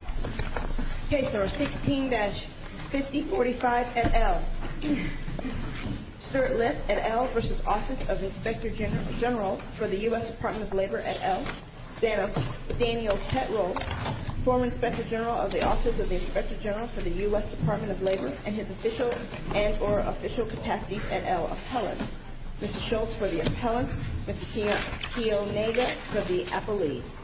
for the U.S. Department of Labor et al., Daniel Petro, former Inspector General of the Office of the Inspector General for the U.S. Department of Labor and his official and or official capacities et al., Appellants, Mr. Schultz for the Appellants, Mr. Keonega for the Appellees.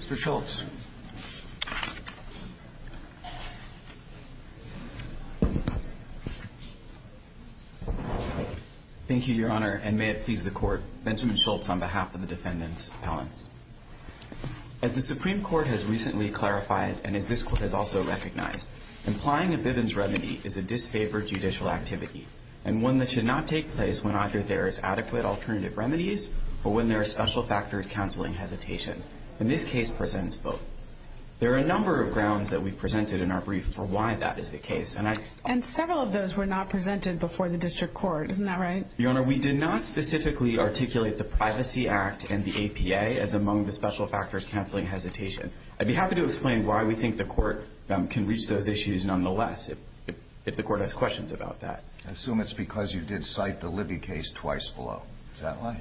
Mr. Schultz. Thank you, Your Honor, and may it please the Court, Benjamin Schultz on behalf of the Defendants Appellants. As the Supreme Court has recently clarified and as this Court has also recognized, implying a Bivens remedy is a disfavored judicial activity and one that should not take place when either there is adequate alternative remedies or when there are special factors counseling hesitation. And this case presents both. There are a number of grounds that we presented in our brief for why that is the case. And several of those were not presented before the District Court. Isn't that right? Your Honor, we did not specifically articulate the Privacy Act and the APA as among the special factors counseling hesitation. I'd be happy to explain why we think the Court can reach those issues nonetheless if the Court has questions about that. I assume it's because you did cite the Libby case twice below. Is that right?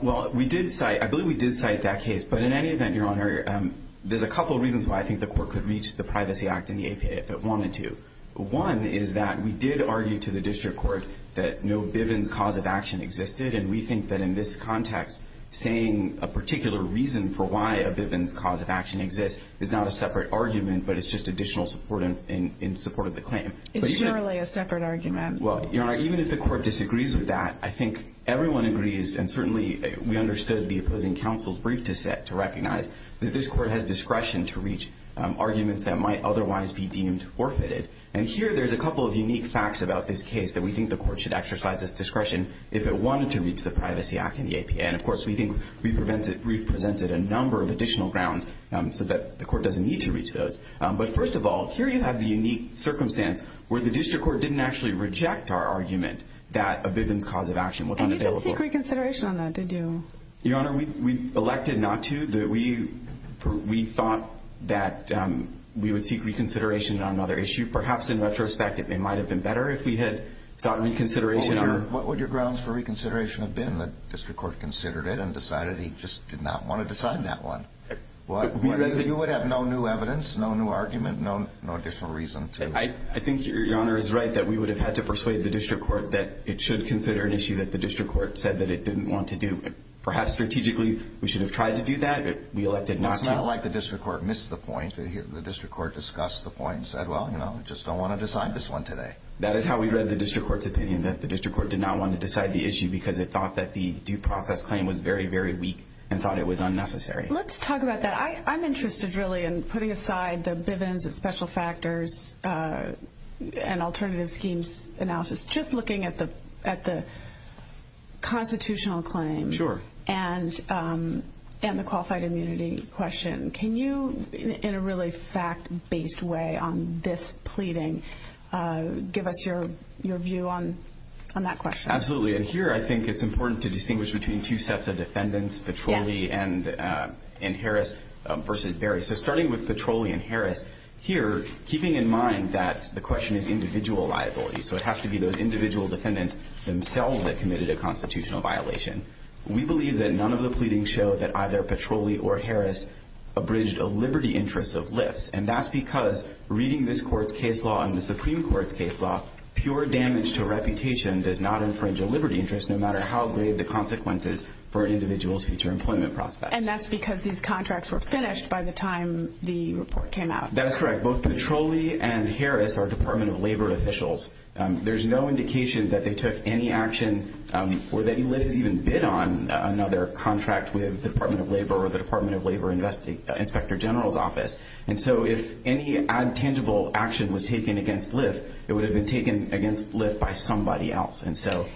Well, I believe we did cite that case. But in any event, Your Honor, there's a couple of reasons why I think the Court could reach the Privacy Act and the APA if it wanted to. One is that we did argue to the District Court that no Bivens cause of action existed. And we think that in this context, saying a particular reason for why a Bivens cause of action exists is not a separate argument, but it's just additional support in support of the claim. It's merely a separate argument. Well, Your Honor, even if the Court disagrees with that, I think everyone agrees, and certainly we understood the opposing counsel's brief to recognize, that this Court has discretion to reach arguments that might otherwise be deemed forfeited. And here there's a couple of unique facts about this case that we think the Court should exercise its discretion if it wanted to reach the Privacy Act and the APA. And, of course, we think we've presented a number of additional grounds so that the Court doesn't need to reach those. But, first of all, here you have the unique circumstance where the District Court didn't actually reject our argument that a Bivens cause of action was unavailable. And you didn't seek reconsideration on that, did you? Your Honor, we elected not to. We thought that we would seek reconsideration on another issue. Perhaps, in retrospect, it might have been better if we had sought reconsideration. What would your grounds for reconsideration have been that District Court considered it and decided he just did not want to decide that one? You would have no new evidence, no new argument, no additional reason to. I think Your Honor is right that we would have had to persuade the District Court that it should consider an issue that the District Court said that it didn't want to do. Perhaps, strategically, we should have tried to do that. We elected not to. It's not like the District Court missed the point. The District Court discussed the point and said, well, you know, we just don't want to decide this one today. That is how we read the District Court's opinion, that the District Court did not want to decide the issue because it thought that the due process claim was very, very weak and thought it was unnecessary. Let's talk about that. I'm interested, really, in putting aside the Bivens and special factors and alternative schemes analysis, just looking at the constitutional claim and the qualified immunity question. Can you, in a really fact-based way on this pleading, give us your view on that question? Absolutely. And here I think it's important to distinguish between two sets of defendants, Petroli and Harris versus Berry. So starting with Petroli and Harris, here, keeping in mind that the question is individual liability, so it has to be those individual defendants themselves that committed a constitutional violation. We believe that none of the pleadings show that either Petroli or Harris abridged a liberty interest of lifts. And that's because, reading this Court's case law and the Supreme Court's case law, pure damage to reputation does not infringe a liberty interest, no matter how grave the consequences for an individual's future employment prospects. And that's because these contracts were finished by the time the report came out. That is correct. Both Petroli and Harris are Department of Labor officials. There's no indication that they took any action or that he was even bid on another contract with the Department of Labor or the Department of Labor Inspector General's office. And so if any intangible action was taken against lift, it would have been taken against lift by somebody else.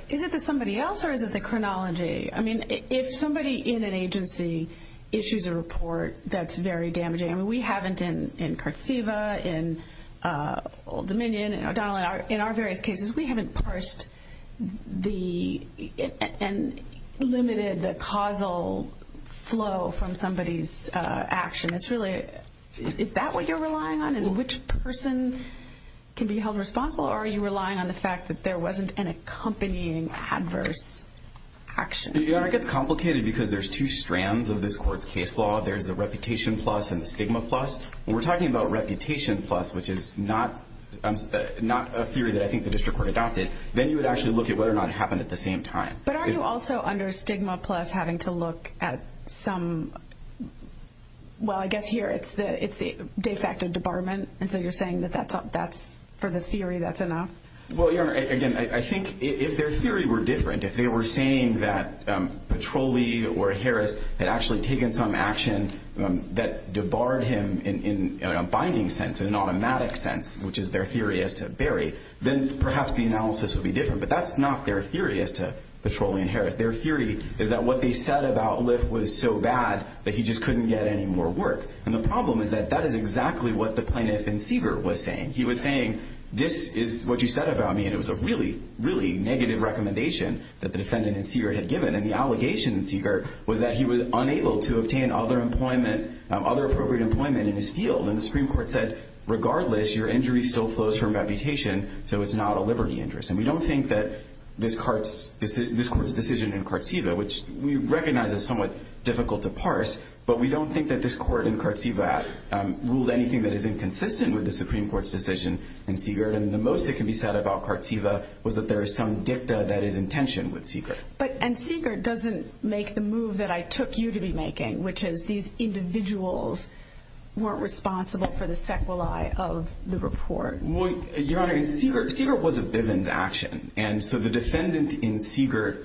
Is it the somebody else or is it the chronology? I mean, if somebody in an agency issues a report that's very damaging, I mean, we haven't in Curtsiva, in Dominion, in O'Donnell, in our various cases, we haven't parsed and limited the causal flow from somebody's action. Is that what you're relying on? Which person can be held responsible or are you relying on the fact that there wasn't an accompanying adverse action? It gets complicated because there's two strands of this Court's case law. There's the reputation plus and the stigma plus. When we're talking about reputation plus, which is not a theory that I think the district court adopted, then you would actually look at whether or not it happened at the same time. But are you also under stigma plus having to look at some – well, I guess here it's the de facto debarment. And so you're saying that that's – for the theory that's enough? Well, Your Honor, again, I think if their theory were different, if they were saying that Petroli or Harris had actually taken some action that debarred him in a binding sense, in an automatic sense, which is their theory as to Barry, then perhaps the analysis would be different. But that's not their theory as to Petroli and Harris. Their theory is that what they said about Lyft was so bad that he just couldn't get any more work. And the problem is that that is exactly what the plaintiff in Siegert was saying. He was saying, this is what you said about me, and it was a really, really negative recommendation that the defendant in Siegert had given. And the allegation in Siegert was that he was unable to obtain other appropriate employment in his field. And the Supreme Court said, regardless, your injury still flows from reputation, so it's not a liberty interest. And we don't think that this court's decision in Kartseva, which we recognize is somewhat difficult to parse, but we don't think that this court in Kartseva ruled anything that is inconsistent with the Supreme Court's decision in Siegert. And the most that can be said about Kartseva was that there is some dicta that is in tension with Siegert. But – and Siegert doesn't make the move that I took you to be making, which is these individuals weren't responsible for the sequelae of the report. Your Honor, in Siegert – Siegert was a Bivens action. And so the defendant in Siegert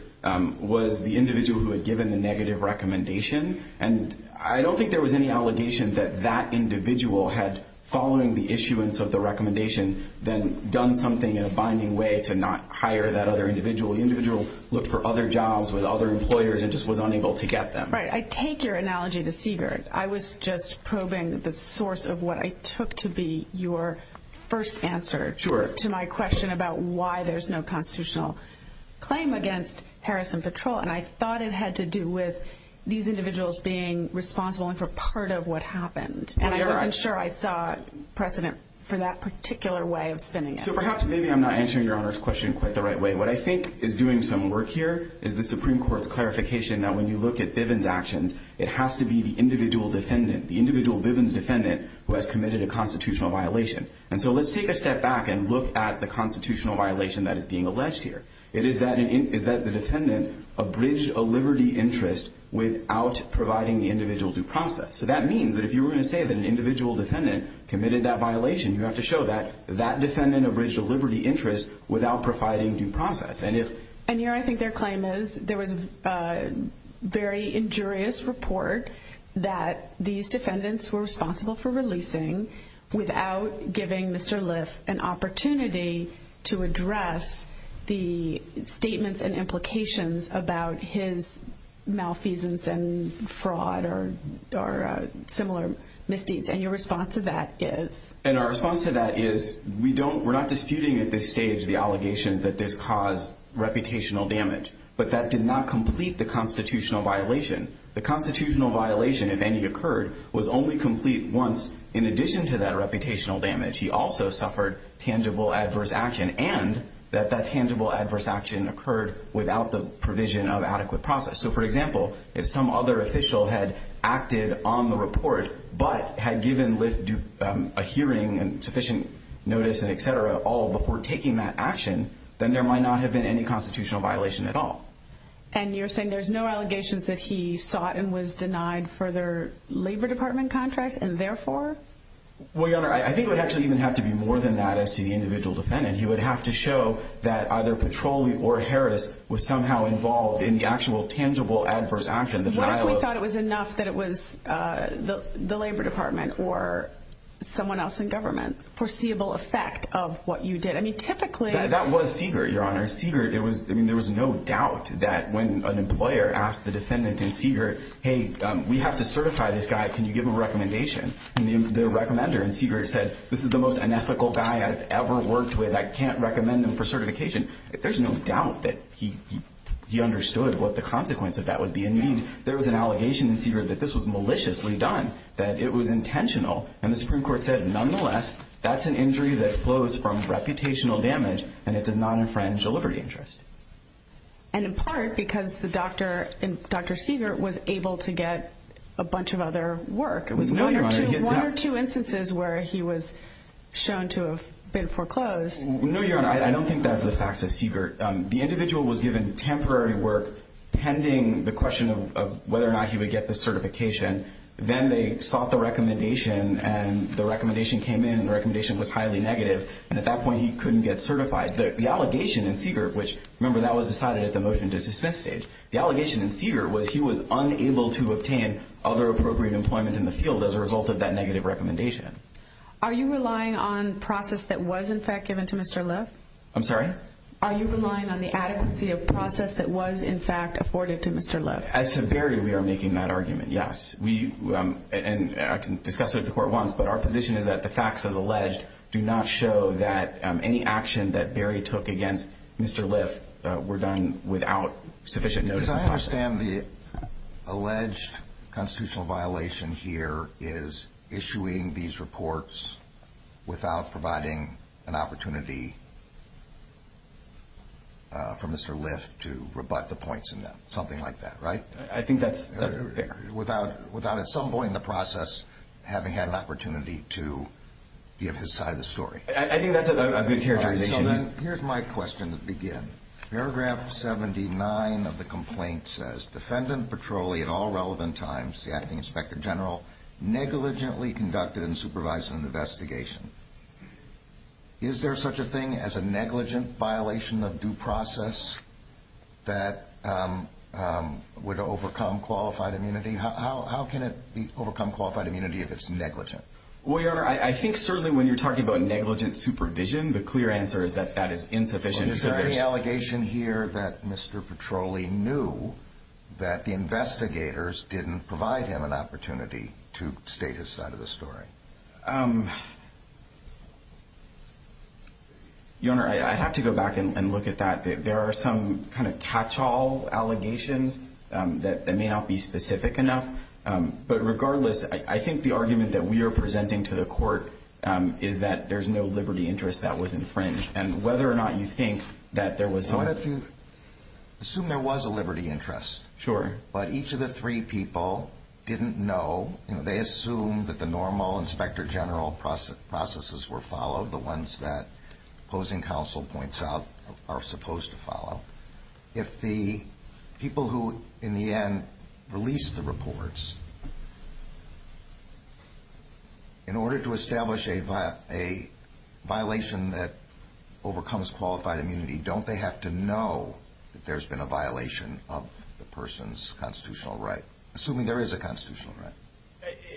was the individual who had given the negative recommendation. And I don't think there was any allegation that that individual had, following the issuance of the recommendation, then done something in a binding way to not hire that other individual. The individual looked for other jobs with other employers and just was unable to get them. Right. I take your analogy to Siegert. I was just probing the source of what I took to be your first answer to my question about why there's no constitutional claim against Harris & Patrol. And I thought it had to do with these individuals being responsible for part of what happened. And I wasn't sure I saw precedent for that particular way of spinning it. So perhaps maybe I'm not answering Your Honor's question quite the right way. What I think is doing some work here is the Supreme Court's clarification that when you look at Bivens actions, it has to be the individual defendant, the individual Bivens defendant, who has committed a constitutional violation. And so let's take a step back and look at the constitutional violation that is being alleged here. It is that the defendant abridged a liberty interest without providing the individual due process. So that means that if you were going to say that an individual defendant committed that violation, you have to show that that defendant abridged a liberty interest without providing due process. And Your Honor, I think their claim is there was a very injurious report that these defendants were responsible for releasing without giving Mr. Liff an opportunity to address the statements and implications about his malfeasance and fraud or similar misdeeds. And your response to that is? And our response to that is we're not disputing at this stage the allegations that this caused reputational damage, but that did not complete the constitutional violation. The constitutional violation, if any occurred, was only complete once. In addition to that reputational damage, he also suffered tangible adverse action, and that that tangible adverse action occurred without the provision of adequate process. So for example, if some other official had acted on the report but had given Liff a hearing and sufficient notice and et cetera all before taking that action, then there might not have been any constitutional violation at all. And you're saying there's no allegations that he sought and was denied further labor department contracts and therefore? Well, Your Honor, I think it would actually even have to be more than that as to the individual defendant. And he would have to show that either Petroli or Harris was somehow involved in the actual tangible adverse action. What if we thought it was enough that it was the labor department or someone else in government, foreseeable effect of what you did? I mean, typically. That was Siegert, Your Honor. Siegert, I mean, there was no doubt that when an employer asked the defendant in Siegert, hey, we have to certify this guy, can you give him a recommendation? And the recommender in Siegert said, this is the most unethical guy I've ever worked with. I can't recommend him for certification. There's no doubt that he understood what the consequence of that would be and mean. There was an allegation in Siegert that this was maliciously done, that it was intentional. And the Supreme Court said, nonetheless, that's an injury that flows from reputational damage and it does not infringe a liberty interest. And in part because the doctor, Dr. Siegert, was able to get a bunch of other work. It was one or two instances where he was shown to have been foreclosed. No, Your Honor. I don't think that's the facts of Siegert. The individual was given temporary work pending the question of whether or not he would get the certification. Then they sought the recommendation, and the recommendation came in, and the recommendation was highly negative. And at that point, he couldn't get certified. The allegation in Siegert, which, remember, that was decided at the motion to dismiss stage. The allegation in Siegert was he was unable to obtain other appropriate employment in the field as a result of that negative recommendation. Are you relying on process that was, in fact, given to Mr. Liff? I'm sorry? Are you relying on the adequacy of process that was, in fact, afforded to Mr. Liff? As to Barry, we are making that argument, yes. I can discuss it with the court once, but our position is that the facts, as alleged, do not show that any action that Barry took against Mr. Liff were done without sufficient notice of process. Because I understand the alleged constitutional violation here is issuing these reports without providing an opportunity for Mr. Liff to rebut the points in them, something like that, right? I think that's fair. Without at some point in the process having had an opportunity to give his side of the story. I think that's a good characterization. Here's my question to begin. Paragraph 79 of the complaint says, Defendant Petroli, at all relevant times, the Acting Inspector General, negligently conducted and supervised an investigation. Is there such a thing as a negligent violation of due process that would overcome qualified immunity? How can it overcome qualified immunity if it's negligent? Well, Your Honor, I think certainly when you're talking about negligent supervision, the clear answer is that that is insufficient. Is there any allegation here that Mr. Petroli knew that the investigators didn't provide him an opportunity to state his side of the story? Your Honor, I have to go back and look at that. There are some kind of catch-all allegations that may not be specific enough. But regardless, I think the argument that we are presenting to the court is that there's no liberty interest that was infringed. And whether or not you think that there was some... I want to assume there was a liberty interest. Sure. But each of the three people didn't know. They assumed that the normal Inspector General processes were followed, the ones that opposing counsel points out are supposed to follow. If the people who, in the end, release the reports, in order to establish a violation that overcomes qualified immunity, don't they have to know that there's been a violation of the person's constitutional right, assuming there is a constitutional right?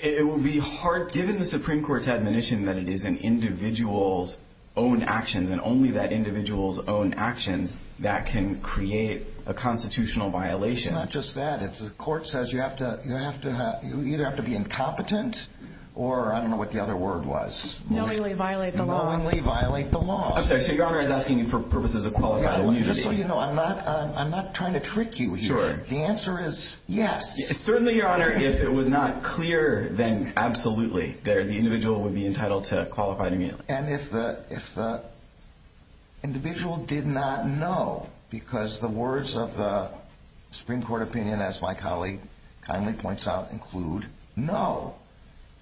It would be hard, given the Supreme Court's admonition that it is an individual's own actions, and only that individual's own actions that can create a constitutional violation. It's not just that. The court says you either have to be incompetent, or I don't know what the other word was. Knowingly violate the law. Knowingly violate the law. I'm sorry. So Your Honor is asking for purposes of qualified immunity. Just so you know, I'm not trying to trick you here. The answer is yes. Certainly, Your Honor, if it was not clear, then absolutely, the individual would be entitled to qualified immunity. And if the individual did not know, because the words of the Supreme Court opinion, as my colleague kindly points out, include, no,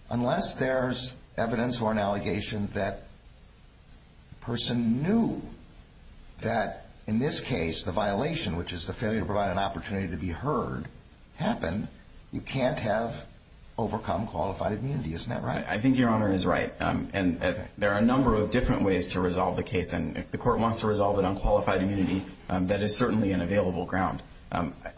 unless there's evidence or an allegation that the person knew that, in this case, the violation, which is the failure to provide an opportunity to be heard, happened, you can't have overcome qualified immunity. Isn't that right? I think Your Honor is right. And there are a number of different ways to resolve the case. And if the court wants to resolve it on qualified immunity, that is certainly an available ground.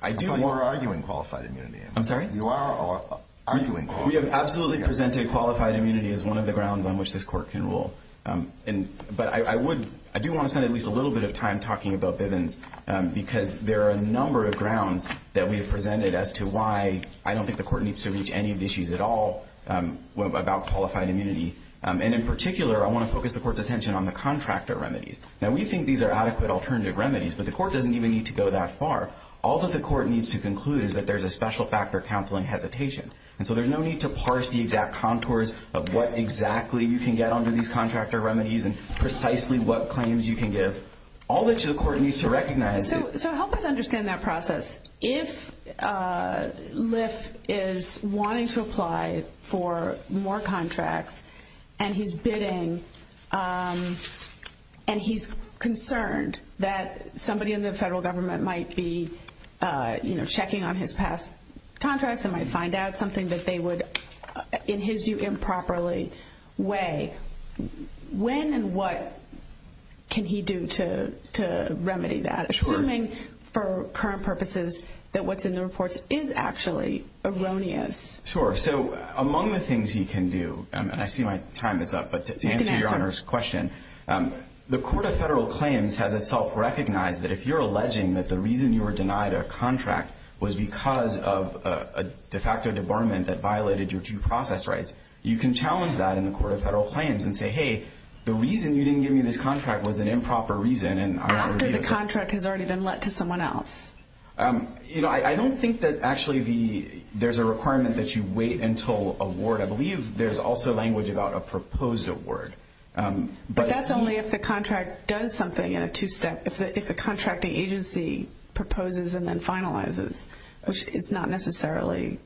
I do more arguing qualified immunity. I'm sorry? You are arguing? We have absolutely presented qualified immunity as one of the grounds on which this court can rule. But I do want to spend at least a little bit of time talking about Bivens, because there are a number of grounds that we have presented as to why I don't think the court needs to reach any of the issues at all about qualified immunity. And in particular, I want to focus the court's attention on the contractor remedies. Now, we think these are adequate alternative remedies, but the court doesn't even need to go that far. All that the court needs to conclude is that there's a special factor counseling hesitation. And so there's no need to parse the exact contours of what exactly you can get under these contractor remedies and precisely what claims you can give. All that the court needs to recognize is that- So help us understand that process. If Lyft is wanting to apply for more contracts and he's bidding, and he's concerned that somebody in the federal government might be checking on his past contracts and might find out something that they would, in his view, improperly weigh, when and what can he do to remedy that? Sure. I'm assuming, for current purposes, that what's in the reports is actually erroneous. Sure. So among the things he can do, and I see my time is up, but to answer your Honor's question, the Court of Federal Claims has itself recognized that if you're alleging that the reason you were denied a contract was because of a de facto debarment that violated your due process rights, you can challenge that in the Court of Federal Claims and say, hey, the reason you didn't give me this contract was an improper reason and I want to- After the contract has already been let to someone else. I don't think that actually there's a requirement that you wait until award. I believe there's also language about a proposed award. But that's only if the contract does something in a two-step, if the contracting agency proposes and then finalizes, which is not necessarily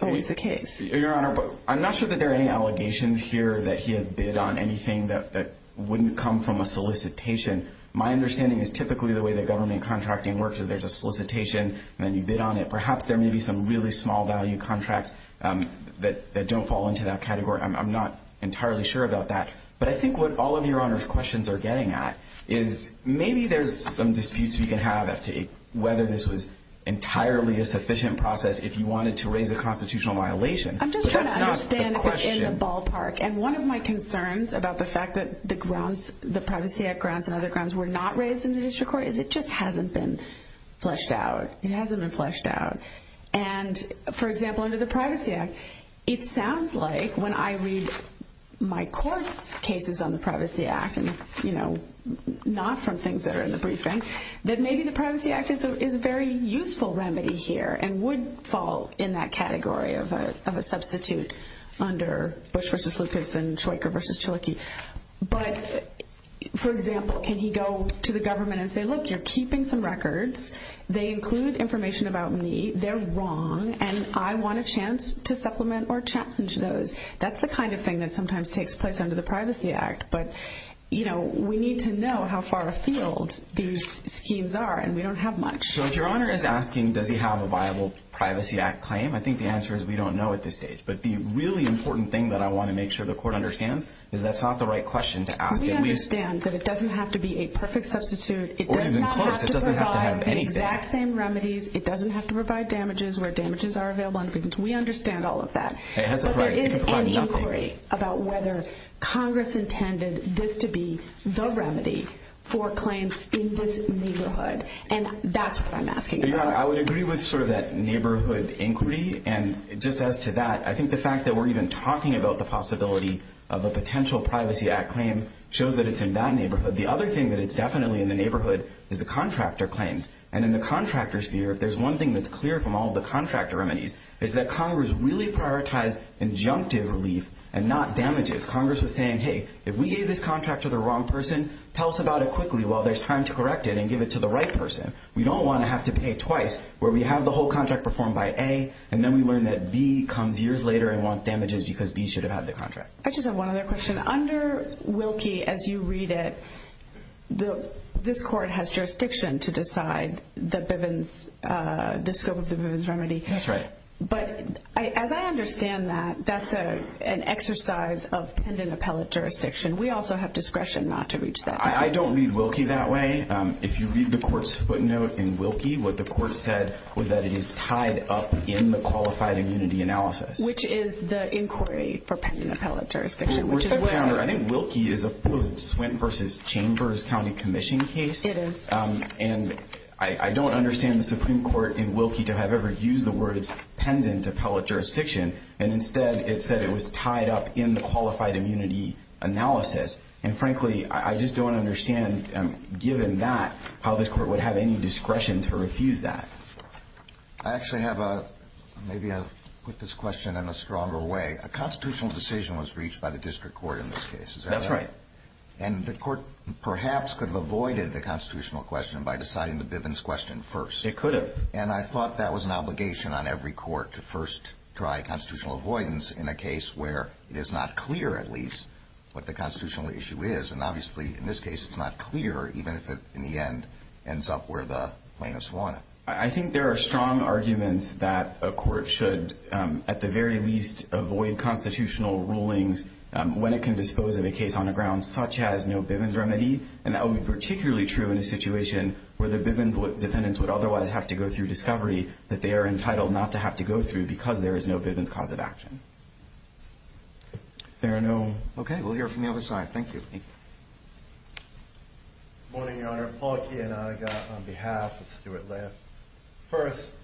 always the case. Your Honor, I'm not sure that there are any allegations here that he has bid on anything that wouldn't come from a solicitation. My understanding is typically the way that government contracting works is there's a solicitation, and then you bid on it. Perhaps there may be some really small-value contracts that don't fall into that category. I'm not entirely sure about that. But I think what all of your Honor's questions are getting at is maybe there's some disputes we can have as to whether this was entirely a sufficient process if you wanted to raise a constitutional violation. I'm just trying to understand what's in the ballpark. And one of my concerns about the fact that the grounds, the Privacy Act grounds and other grounds were not raised in the district court is it just hasn't been fleshed out. It hasn't been fleshed out. And, for example, under the Privacy Act, it sounds like when I read my court's cases on the Privacy Act and, you know, not from things that are in the briefing, that maybe the Privacy Act is a very useful remedy here and would fall in that category of a substitute under Bush v. Lucas and Troika v. Chaliki. But, for example, can he go to the government and say, Look, you're keeping some records. They include information about me. They're wrong, and I want a chance to supplement or challenge those. That's the kind of thing that sometimes takes place under the Privacy Act. But, you know, we need to know how far afield these schemes are, and we don't have much. So, if Your Honor is asking, Does he have a viable Privacy Act claim? I think the answer is we don't know at this stage. But the really important thing that I want to make sure the court understands is that's not the right question to ask. We understand that it doesn't have to be a perfect substitute. It doesn't have to provide the exact same remedies. It doesn't have to provide damages where damages are available. We understand all of that. But there is an inquiry about whether Congress intended this to be the remedy for claims in this neighborhood. And that's what I'm asking. Your Honor, I would agree with sort of that neighborhood inquiry. And just as to that, I think the fact that we're even talking about the possibility of a potential Privacy Act claim shows that it's in that neighborhood. The other thing that it's definitely in the neighborhood is the contractor claims. And in the contractor's view, if there's one thing that's clear from all the contractor remedies, it's that Congress really prioritized injunctive relief and not damages. Congress was saying, Hey, if we gave this contract to the wrong person, tell us about it quickly while there's time to correct it and give it to the right person. We don't want to have to pay twice where we have the whole contract performed by A, and then we learn that B comes years later and wants damages because B should have had the contract. I just have one other question. Under Wilkie, as you read it, this court has jurisdiction to decide the scope of the Bivens remedy. That's right. But as I understand that, that's an exercise of pendant appellate jurisdiction. We also have discretion not to reach that. I don't read Wilkie that way. If you read the court's footnote in Wilkie, what the court said was that it is tied up in the qualified immunity analysis. Which is the inquiry for pendant appellate jurisdiction. I think Wilkie is a Swint v. Chambers County Commission case. It is. And I don't understand the Supreme Court in Wilkie to have ever used the words pendant appellate jurisdiction. And instead, it said it was tied up in the qualified immunity analysis. And, frankly, I just don't understand, given that, how this court would have any discretion to refuse that. I actually have a ‑‑ maybe I'll put this question in a stronger way. A constitutional decision was reached by the district court in this case. Is that right? That's right. And the court perhaps could have avoided the constitutional question by deciding the Bivens question first. It could have. And I thought that was an obligation on every court to first try constitutional avoidance in a case where it is not clear, at least, what the constitutional issue is. And, obviously, in this case, it's not clear, even if it, in the end, ends up where the plaintiffs want it. I think there are strong arguments that a court should, at the very least, avoid constitutional rulings when it can dispose of a case on a ground such as no Bivens remedy. And that would be particularly true in a situation where the Bivens defendants would otherwise have to go through discovery that they are entitled not to have to go through because there is no Bivens cause of action. There are no ‑‑ Okay. We'll hear from the other side. Thank you. Thank you. Good morning, Your Honor. Paul Kiyonaga on behalf of Stuart Lev. First,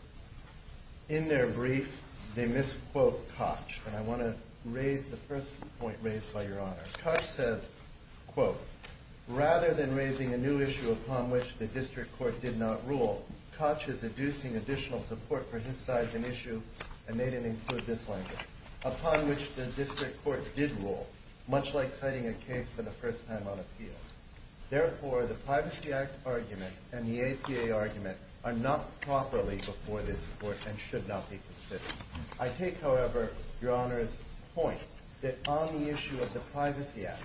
in their brief, they misquote Koch. And I want to raise the first point raised by Your Honor. Koch says, quote, rather than raising a new issue upon which the district court did not rule, Koch is inducing additional support for his side's an issue, and they didn't include this language, upon which the district court did rule, much like citing a case for the first time on appeal. Therefore, the Privacy Act argument and the APA argument are not properly before this court and should not be considered. I take, however, Your Honor's point that on the issue of the Privacy Act,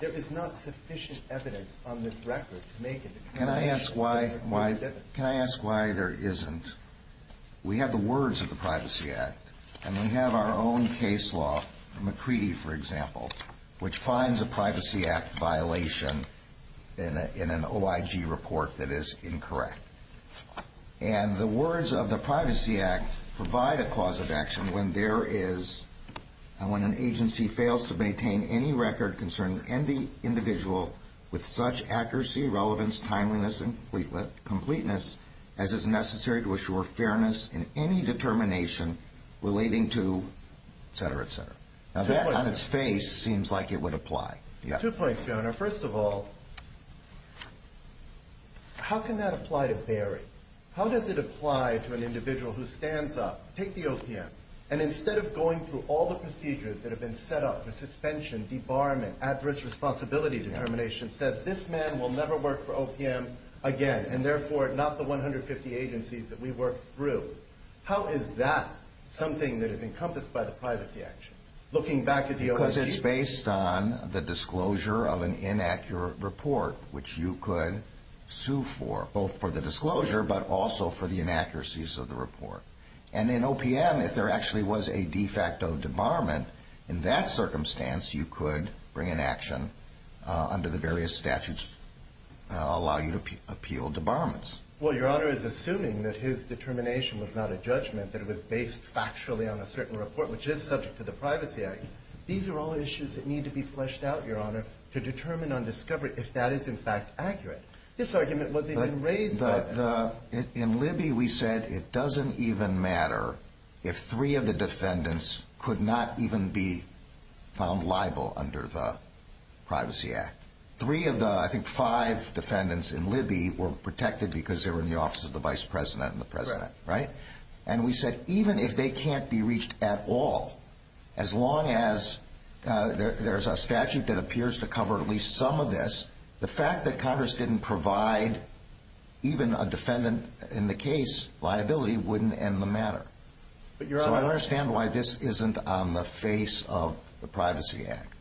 there is not sufficient evidence on this record to make it a ‑‑ Can I ask why there isn't? We have the words of the Privacy Act, and we have our own case law, McCready, for example, which finds a Privacy Act violation in an OIG report that is incorrect. And the words of the Privacy Act provide a cause of action when there is and when an agency fails to maintain any record concerning any individual with such accuracy, relevance, timeliness, and completeness as is necessary to assure fairness in any determination relating to, et cetera, et cetera. Now, that on its face seems like it would apply. Two points, Your Honor. First of all, how can that apply to Barry? How does it apply to an individual who stands up, take the OPM, and instead of going through all the procedures that have been set up, the suspension, debarment, adverse responsibility determination, says this man will never work for OPM again, and therefore not the 150 agencies that we worked through. How is that something that is encompassed by the Privacy Act? Looking back at the OIG ‑‑ Because it's based on the disclosure of an inaccurate report, which you could sue for, both for the disclosure but also for the inaccuracies of the report. And in OPM, if there actually was a de facto debarment in that circumstance, you could bring an action under the various statutes that allow you to appeal debarments. Well, Your Honor is assuming that his determination was not a judgment, that it was based factually on a certain report, which is subject to the Privacy Act. These are all issues that need to be fleshed out, Your Honor, to determine on discovery if that is, in fact, accurate. This argument wasn't even raised. In Libby, we said it doesn't even matter if three of the defendants could not even be found liable under the Privacy Act. Three of the, I think, five defendants in Libby were protected because they were in the office of the vice president and the president, right? And we said even if they can't be reached at all, as long as there's a statute that appears to cover at least some of this, the fact that Congress didn't provide even a defendant in the case liability wouldn't end the matter. So I understand why this isn't on the face of the Privacy Act.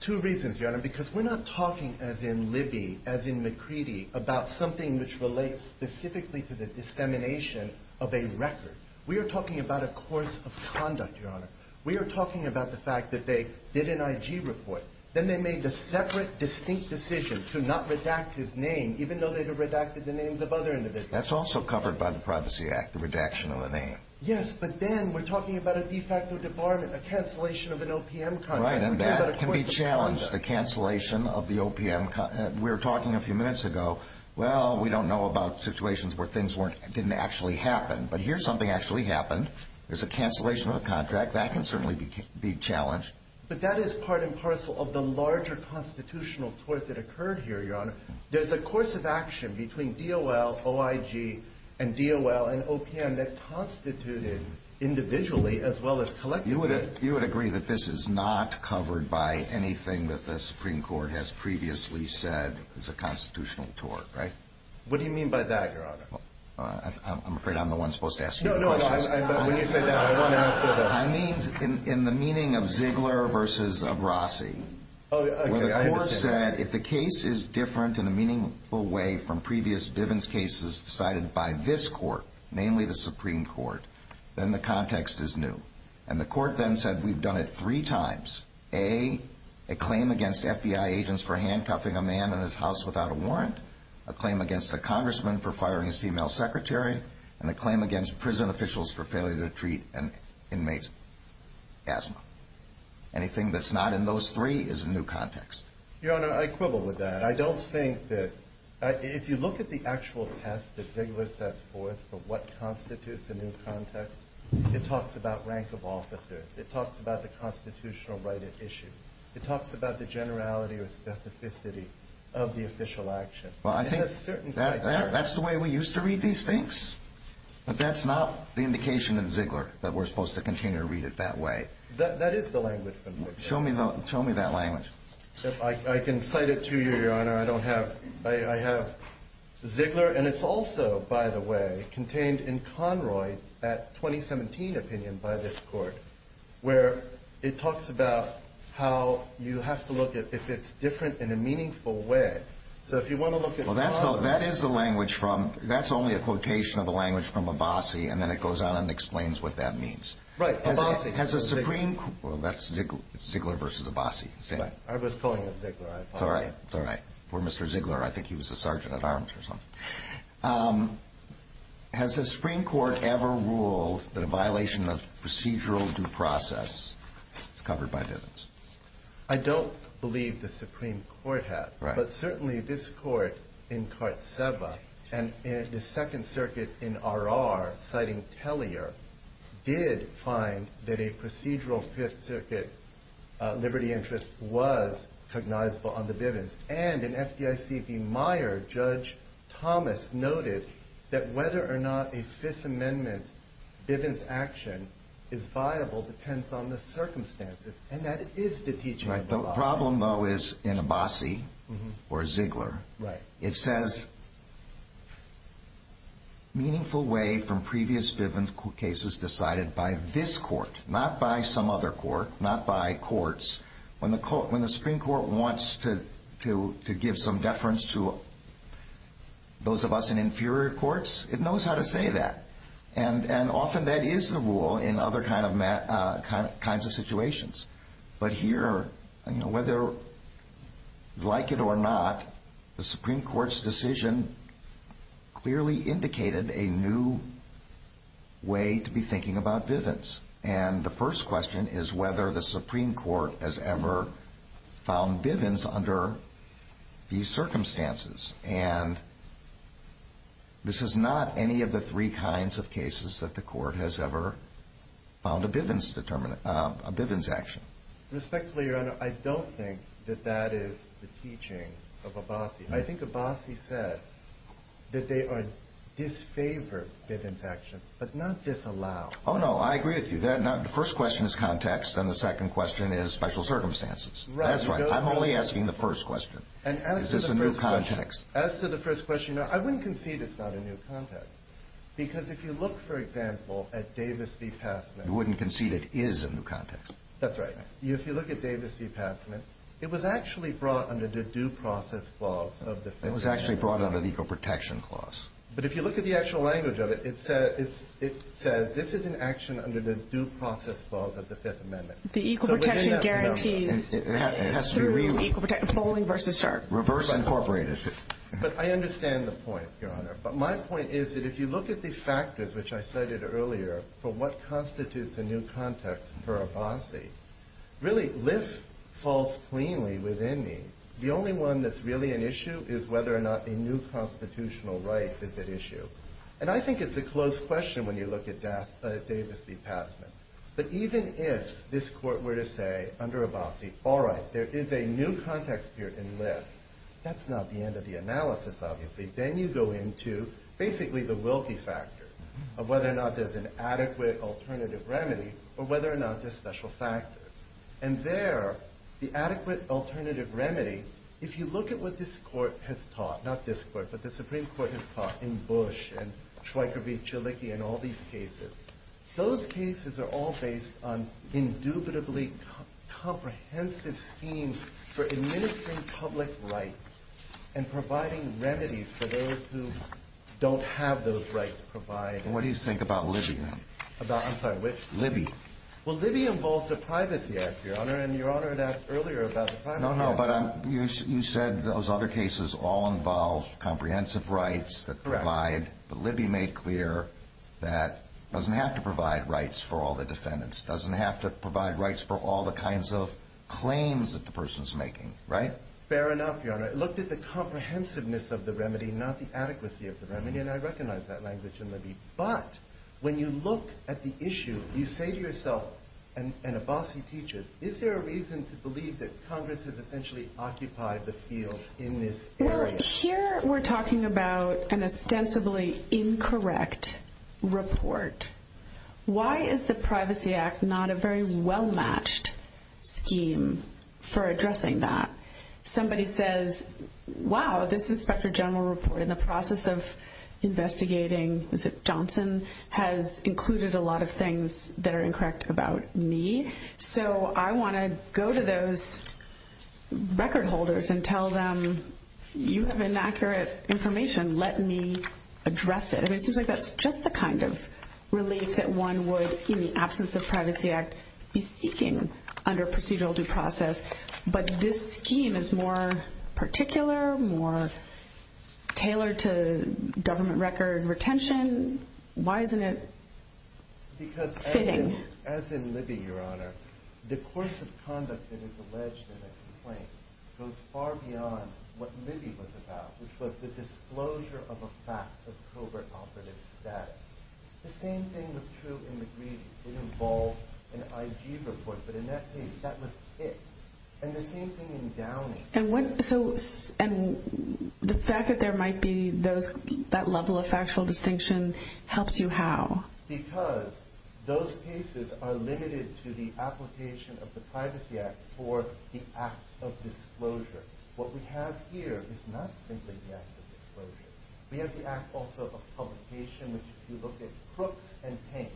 Two reasons, Your Honor, because we're not talking as in Libby, as in McCready, about something which relates specifically to the dissemination of a record. We are talking about a course of conduct, Your Honor. We are talking about the fact that they did an IG report. Then they made the separate, distinct decision to not redact his name, even though they had redacted the names of other individuals. That's also covered by the Privacy Act, the redaction of the name. Yes, but then we're talking about a de facto debarment, a cancellation of an OPM contract. Right, and that can be challenged, the cancellation of the OPM. We were talking a few minutes ago, well, we don't know about situations where things didn't actually happen, but here something actually happened. There's a cancellation of a contract. That can certainly be challenged. But that is part and parcel of the larger constitutional tort that occurred here, Your Honor. There's a course of action between DOL, OIG, and DOL and OPM that constituted individually as well as collectively. You would agree that this is not covered by anything that the Supreme Court has previously said is a constitutional tort, right? What do you mean by that, Your Honor? I'm afraid I'm the one supposed to ask you the questions. No, no, when you say that, I want to answer that. I mean in the meaning of Ziegler versus Abrasi, where the court said if the case is different in a meaningful way from previous Divens cases decided by this court, namely the Supreme Court, then the context is new. And the court then said we've done it three times. A, a claim against FBI agents for handcuffing a man in his house without a warrant, a claim against a congressman for firing his female secretary, and a claim against prison officials for failure to treat an inmate's asthma. Anything that's not in those three is a new context. Your Honor, I quibble with that. I don't think that if you look at the actual test that Ziegler sets forth for what constitutes a new context, it talks about rank of officers. It talks about the constitutional right at issue. It talks about the generality or specificity of the official action. Well, I think that's the way we used to read these things. But that's not the indication in Ziegler that we're supposed to continue to read it that way. That is the language from Ziegler. Show me that language. I can cite it to you, Your Honor. I have Ziegler, and it's also, by the way, contained in Conroy at 2017 opinion by this court where it talks about how you have to look at if it's different in a meaningful way. So if you want to look at Conroy. Well, that is the language from – that's only a quotation of the language from Abbasi, and then it goes on and explains what that means. Right. Abbasi. Has the Supreme – well, that's Ziegler versus Abbasi. Right. I was calling it Ziegler. It's all right. It's all right. For Mr. Ziegler, I think he was a sergeant at arms or something. Has the Supreme Court ever ruled that a violation of procedural due process is covered by dividends? I don't believe the Supreme Court has. Right. But certainly this court in Kartseva and the Second Circuit in Arar, citing Tellier, did find that a procedural Fifth Circuit liberty interest was cognizable on the dividends. And in FDIC v. Meyer, Judge Thomas noted that whether or not a Fifth Amendment dividends action is viable depends on the circumstances, and that is the teaching of Abbasi. The problem, though, is in Abbasi or Ziegler. Right. It says, meaningful way from previous dividends cases decided by this court, not by some other court, not by courts. When the Supreme Court wants to give some deference to those of us in inferior courts, it knows how to say that. And often that is the rule in other kinds of situations. But here, whether you like it or not, the Supreme Court's decision clearly indicated a new way to be thinking about dividends. And the first question is whether the Supreme Court has ever found dividends under these circumstances. And this is not any of the three kinds of cases that the court has ever found a dividends action. Respectfully, Your Honor, I don't think that that is the teaching of Abbasi. I think Abbasi said that they are disfavored dividends actions, but not disallowed. Oh, no, I agree with you. The first question is context, and the second question is special circumstances. That's right. I'm only asking the first question. Is this a new context? As to the first question, Your Honor, I wouldn't concede it's not a new context, because if you look, for example, at Davis v. Passman. You wouldn't concede it is a new context? That's right. If you look at Davis v. Passman, it was actually brought under the due process clause of the Fifth Amendment. It was actually brought under the equal protection clause. But if you look at the actual language of it, it says this is an action under the due process clause of the Fifth Amendment. The equal protection guarantees. It has to be rewrote. Equal protection, polling versus chart. Reverse incorporated. But I understand the point, Your Honor. But my point is that if you look at the factors, which I cited earlier, for what constitutes a new context for Abbasi, really, Lyft falls cleanly within these. The only one that's really an issue is whether or not a new constitutional right is at issue. And I think it's a close question when you look at Davis v. Passman. But even if this Court were to say under Abbasi, all right, there is a new context here in Lyft, that's not the end of the analysis, obviously. Then you go into basically the Wilkie factor of whether or not there's an adequate alternative remedy or whether or not there's special factors. And there, the adequate alternative remedy, if you look at what this Court has taught, not this Court, but the Supreme Court has taught in Bush and Schweiker v. Chalicki and all these cases, those cases are all based on indubitably comprehensive schemes for administering public rights and providing remedies for those who don't have those rights provided. And what do you think about Libby, then? About, I'm sorry, which? Libby. Well, Libby involves the Privacy Act, Your Honor, and Your Honor had asked earlier about the Privacy Act. No, no, but you said those other cases all involve comprehensive rights that provide. Correct. But Libby made clear that it doesn't have to provide rights for all the defendants, doesn't have to provide rights for all the kinds of claims that the person's making, right? Fair enough, Your Honor. It looked at the comprehensiveness of the remedy, not the adequacy of the remedy, and I recognize that language in Libby. But when you look at the issue, you say to yourself, and Abbasi teaches, is there a reason to believe that Congress has essentially occupied the field in this area? Here we're talking about an ostensibly incorrect report. Why is the Privacy Act not a very well-matched scheme for addressing that? Somebody says, wow, this inspector general report in the process of investigating Johnson has included a lot of things that are incorrect about me, so I want to go to those record holders and tell them you have inaccurate information. Let me address it. It seems like that's just the kind of relief that one would, in the absence of Privacy Act, be seeking under procedural due process. But this scheme is more particular, more tailored to government record retention. Why isn't it fitting? Because as in Libby, Your Honor, the course of conduct that is alleged in a complaint goes far beyond what Libby was about, which was the disclosure of a fact of covert operative status. The same thing was true in the Greedy. It involved an IG report, but in that case that was it. And the same thing in Downing. And the fact that there might be that level of factual distinction helps you how? Because those cases are limited to the application of the Privacy Act for the act of disclosure. What we have here is not simply the act of disclosure. We have the act also of publication, which if you look at Crooks and Payne.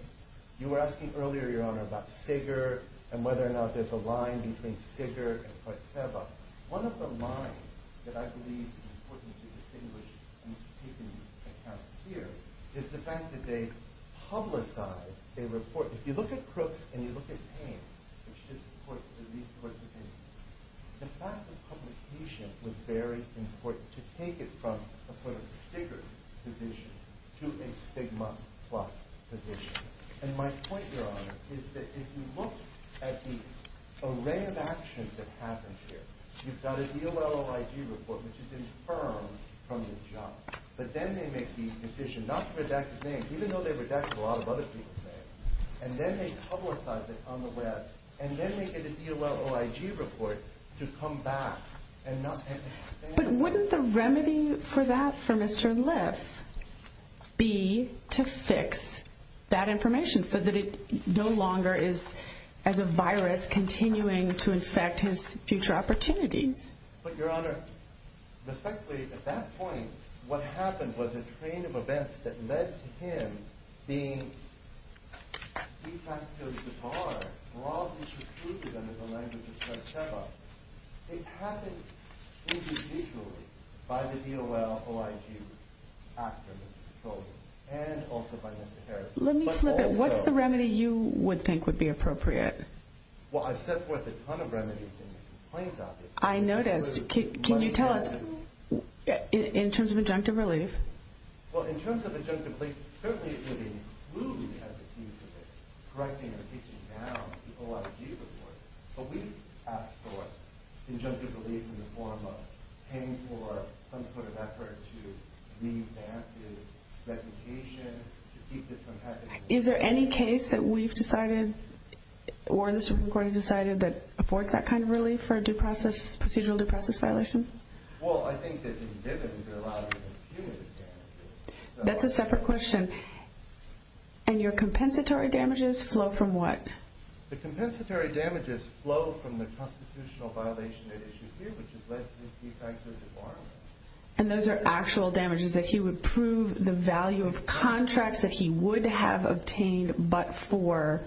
You were asking earlier, Your Honor, about Siger and whether or not there's a line between Siger and Partseva. One of the lines that I believe is important to distinguish and take into account here is the fact that they publicize a report. If you look at Crooks and you look at Payne, which is the court's opinion, the fact of publication was very important to take it from a sort of Siger position to a stigma-plus position. And my point, Your Honor, is that if you look at the array of actions that happened here, you've got an ELLIG report, which is infirmed from the judge. But then they make the decision not to redact his name, even though they redacted a lot of other people's names. And then they publicize it on the web. And then they get an ELLIG report to come back. But wouldn't the remedy for that for Mr. Liff be to fix that information so that it no longer is, as a virus, continuing to infect his future opportunities? But, Your Honor, respectfully, at that point, what happened was a train of events that led to him being de-facto barred, broadly subdued under the language of Partseva. It happened individually by the DOL, OIG, after Mr. Trojan, and also by Mr. Harris. Let me flip it. What's the remedy you would think would be appropriate? Well, I've set forth a ton of remedies in the complaint documents. I noticed. Can you tell us, in terms of injunctive relief? Well, in terms of injunctive relief, certainly it could include, as it seems to me, correcting and fixing down the OIG report. But we've asked for injunctive relief in the form of paying for some sort of effort to re-advance his reputation, to keep this from happening. Is there any case that we've decided, or the Supreme Court has decided, that affords that kind of relief for a procedural due process violation? Well, I think that in Divins, they're allowed to infuse damages. That's a separate question. And your compensatory damages flow from what? The compensatory damages flow from the constitutional violation at issue here, which has led to his de-facto debarment. And those are actual damages that he would prove the value of contracts that he would have obtained but for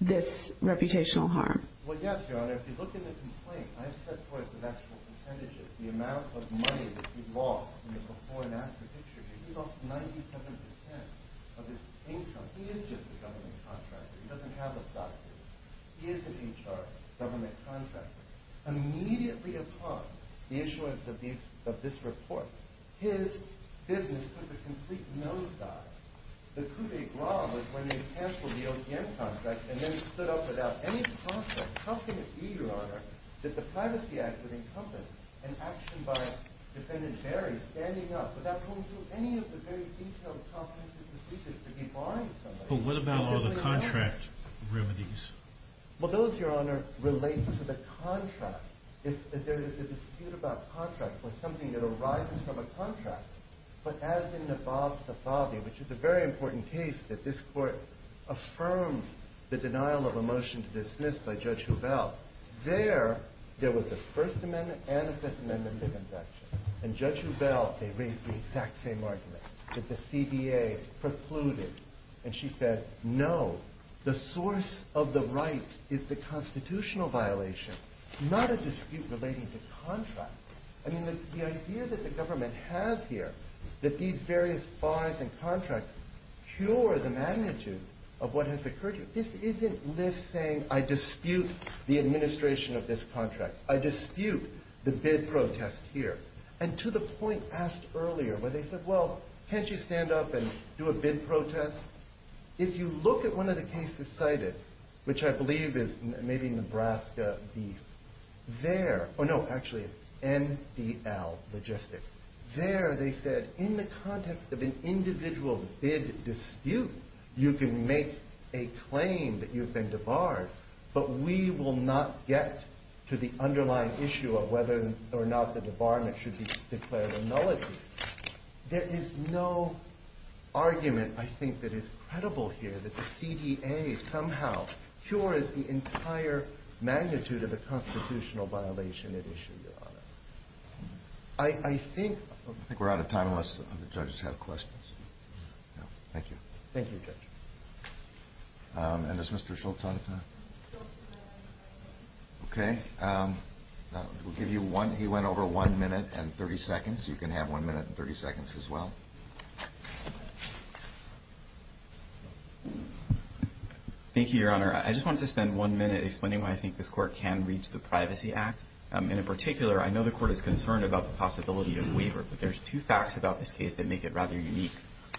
this reputational harm? Well, yes, Your Honor. If you look in the complaint, I have set forth the actual percentages, the amount of money that he lost in the before and after picture. He lost 97% of his income. He is just a government contractor. He doesn't have a soccer team. He is an HR, government contractor. Immediately upon the issuance of this report, his business took a complete nosedive. The coup d'etat was when they canceled the OPM contract and then stood up without any process. How can it be, Your Honor, that the Privacy Act would encompass an action by Defendant Barry standing up without going through any of the very detailed comprehensive procedures to debarring somebody? But what about all the contract remedies? Well, those, Your Honor, relate to the contract. If there is a dispute about contract or something that arises from a contract, but as in the Bob Safavi, which is a very important case that this Court affirmed the denial of a motion to dismiss by Judge Hubel, there, there was a First Amendment and a Fifth Amendment conviction. And Judge Hubel, they raised the exact same argument that the CBA precluded. And she said, no, the source of the right is the constitutional violation, not a dispute relating to contract. I mean, the idea that the government has here, that these various fines and contracts cure the magnitude of what has occurred here, this isn't Lyft saying, I dispute the administration of this contract. I dispute the bid protest here. And to the point asked earlier, where they said, well, can't you stand up and do a bid protest? If you look at one of the cases cited, which I believe is maybe Nebraska Beef, there, or no, actually, it's NDL Logistics. There, they said, in the context of an individual bid dispute, you can make a claim that you've been debarred, but we will not get to the underlying issue of whether or not the debarment should be declared a nullity. There is no argument, I think, that is credible here that the CDA somehow cures the entire magnitude of the constitutional violation at issue, Your Honor. I think we're out of time unless the judges have questions. Thank you. Thank you, Judge. And is Mr. Schultz out of time? Okay. We'll give you one. He went over one minute and 30 seconds. You can have one minute and 30 seconds as well. Thank you, Your Honor. I just wanted to spend one minute explaining why I think this Court can reach the Privacy Act. In particular, I know the Court is concerned about the possibility of waiver, but there's two facts about this case that make it rather unique.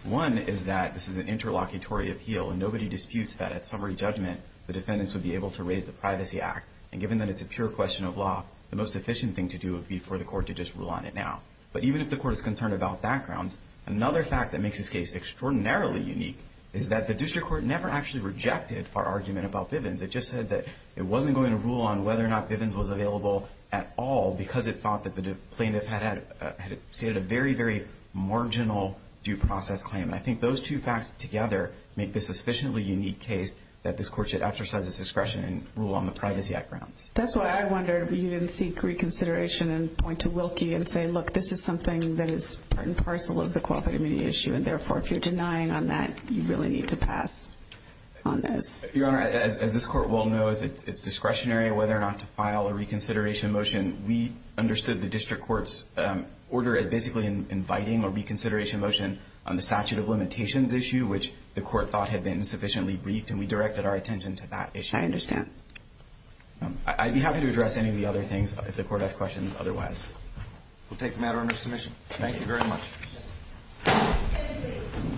One is that this is an interlocutory appeal, and nobody disputes that at summary judgment the defendants would be able to raise the Privacy Act. And given that it's a pure question of law, the most efficient thing to do would be for the Court to just rule on it now. But even if the Court is concerned about backgrounds, another fact that makes this case extraordinarily unique is that the district court never actually rejected our argument about Bivens. It just said that it wasn't going to rule on whether or not Bivens was available at all because it thought that the plaintiff had stated a very, very marginal due process claim. And I think those two facts together make this a sufficiently unique case that this Court should exercise its discretion and rule on the Privacy Act grounds. That's why I wondered if you didn't seek reconsideration and point to Wilkie and say, look, this is something that is part and parcel of the cooperative immunity issue, and therefore, if you're denying on that, you really need to pass on this. Your Honor, as this Court well knows, it's discretionary whether or not to file a reconsideration motion. We understood the district court's order as basically inviting a reconsideration motion on the statute of limitations issue, which the Court thought had been sufficiently briefed, and we directed our attention to that issue. I understand. I'd be happy to address any of the other things if the Court has questions otherwise. We'll take the matter under submission. Thank you very much.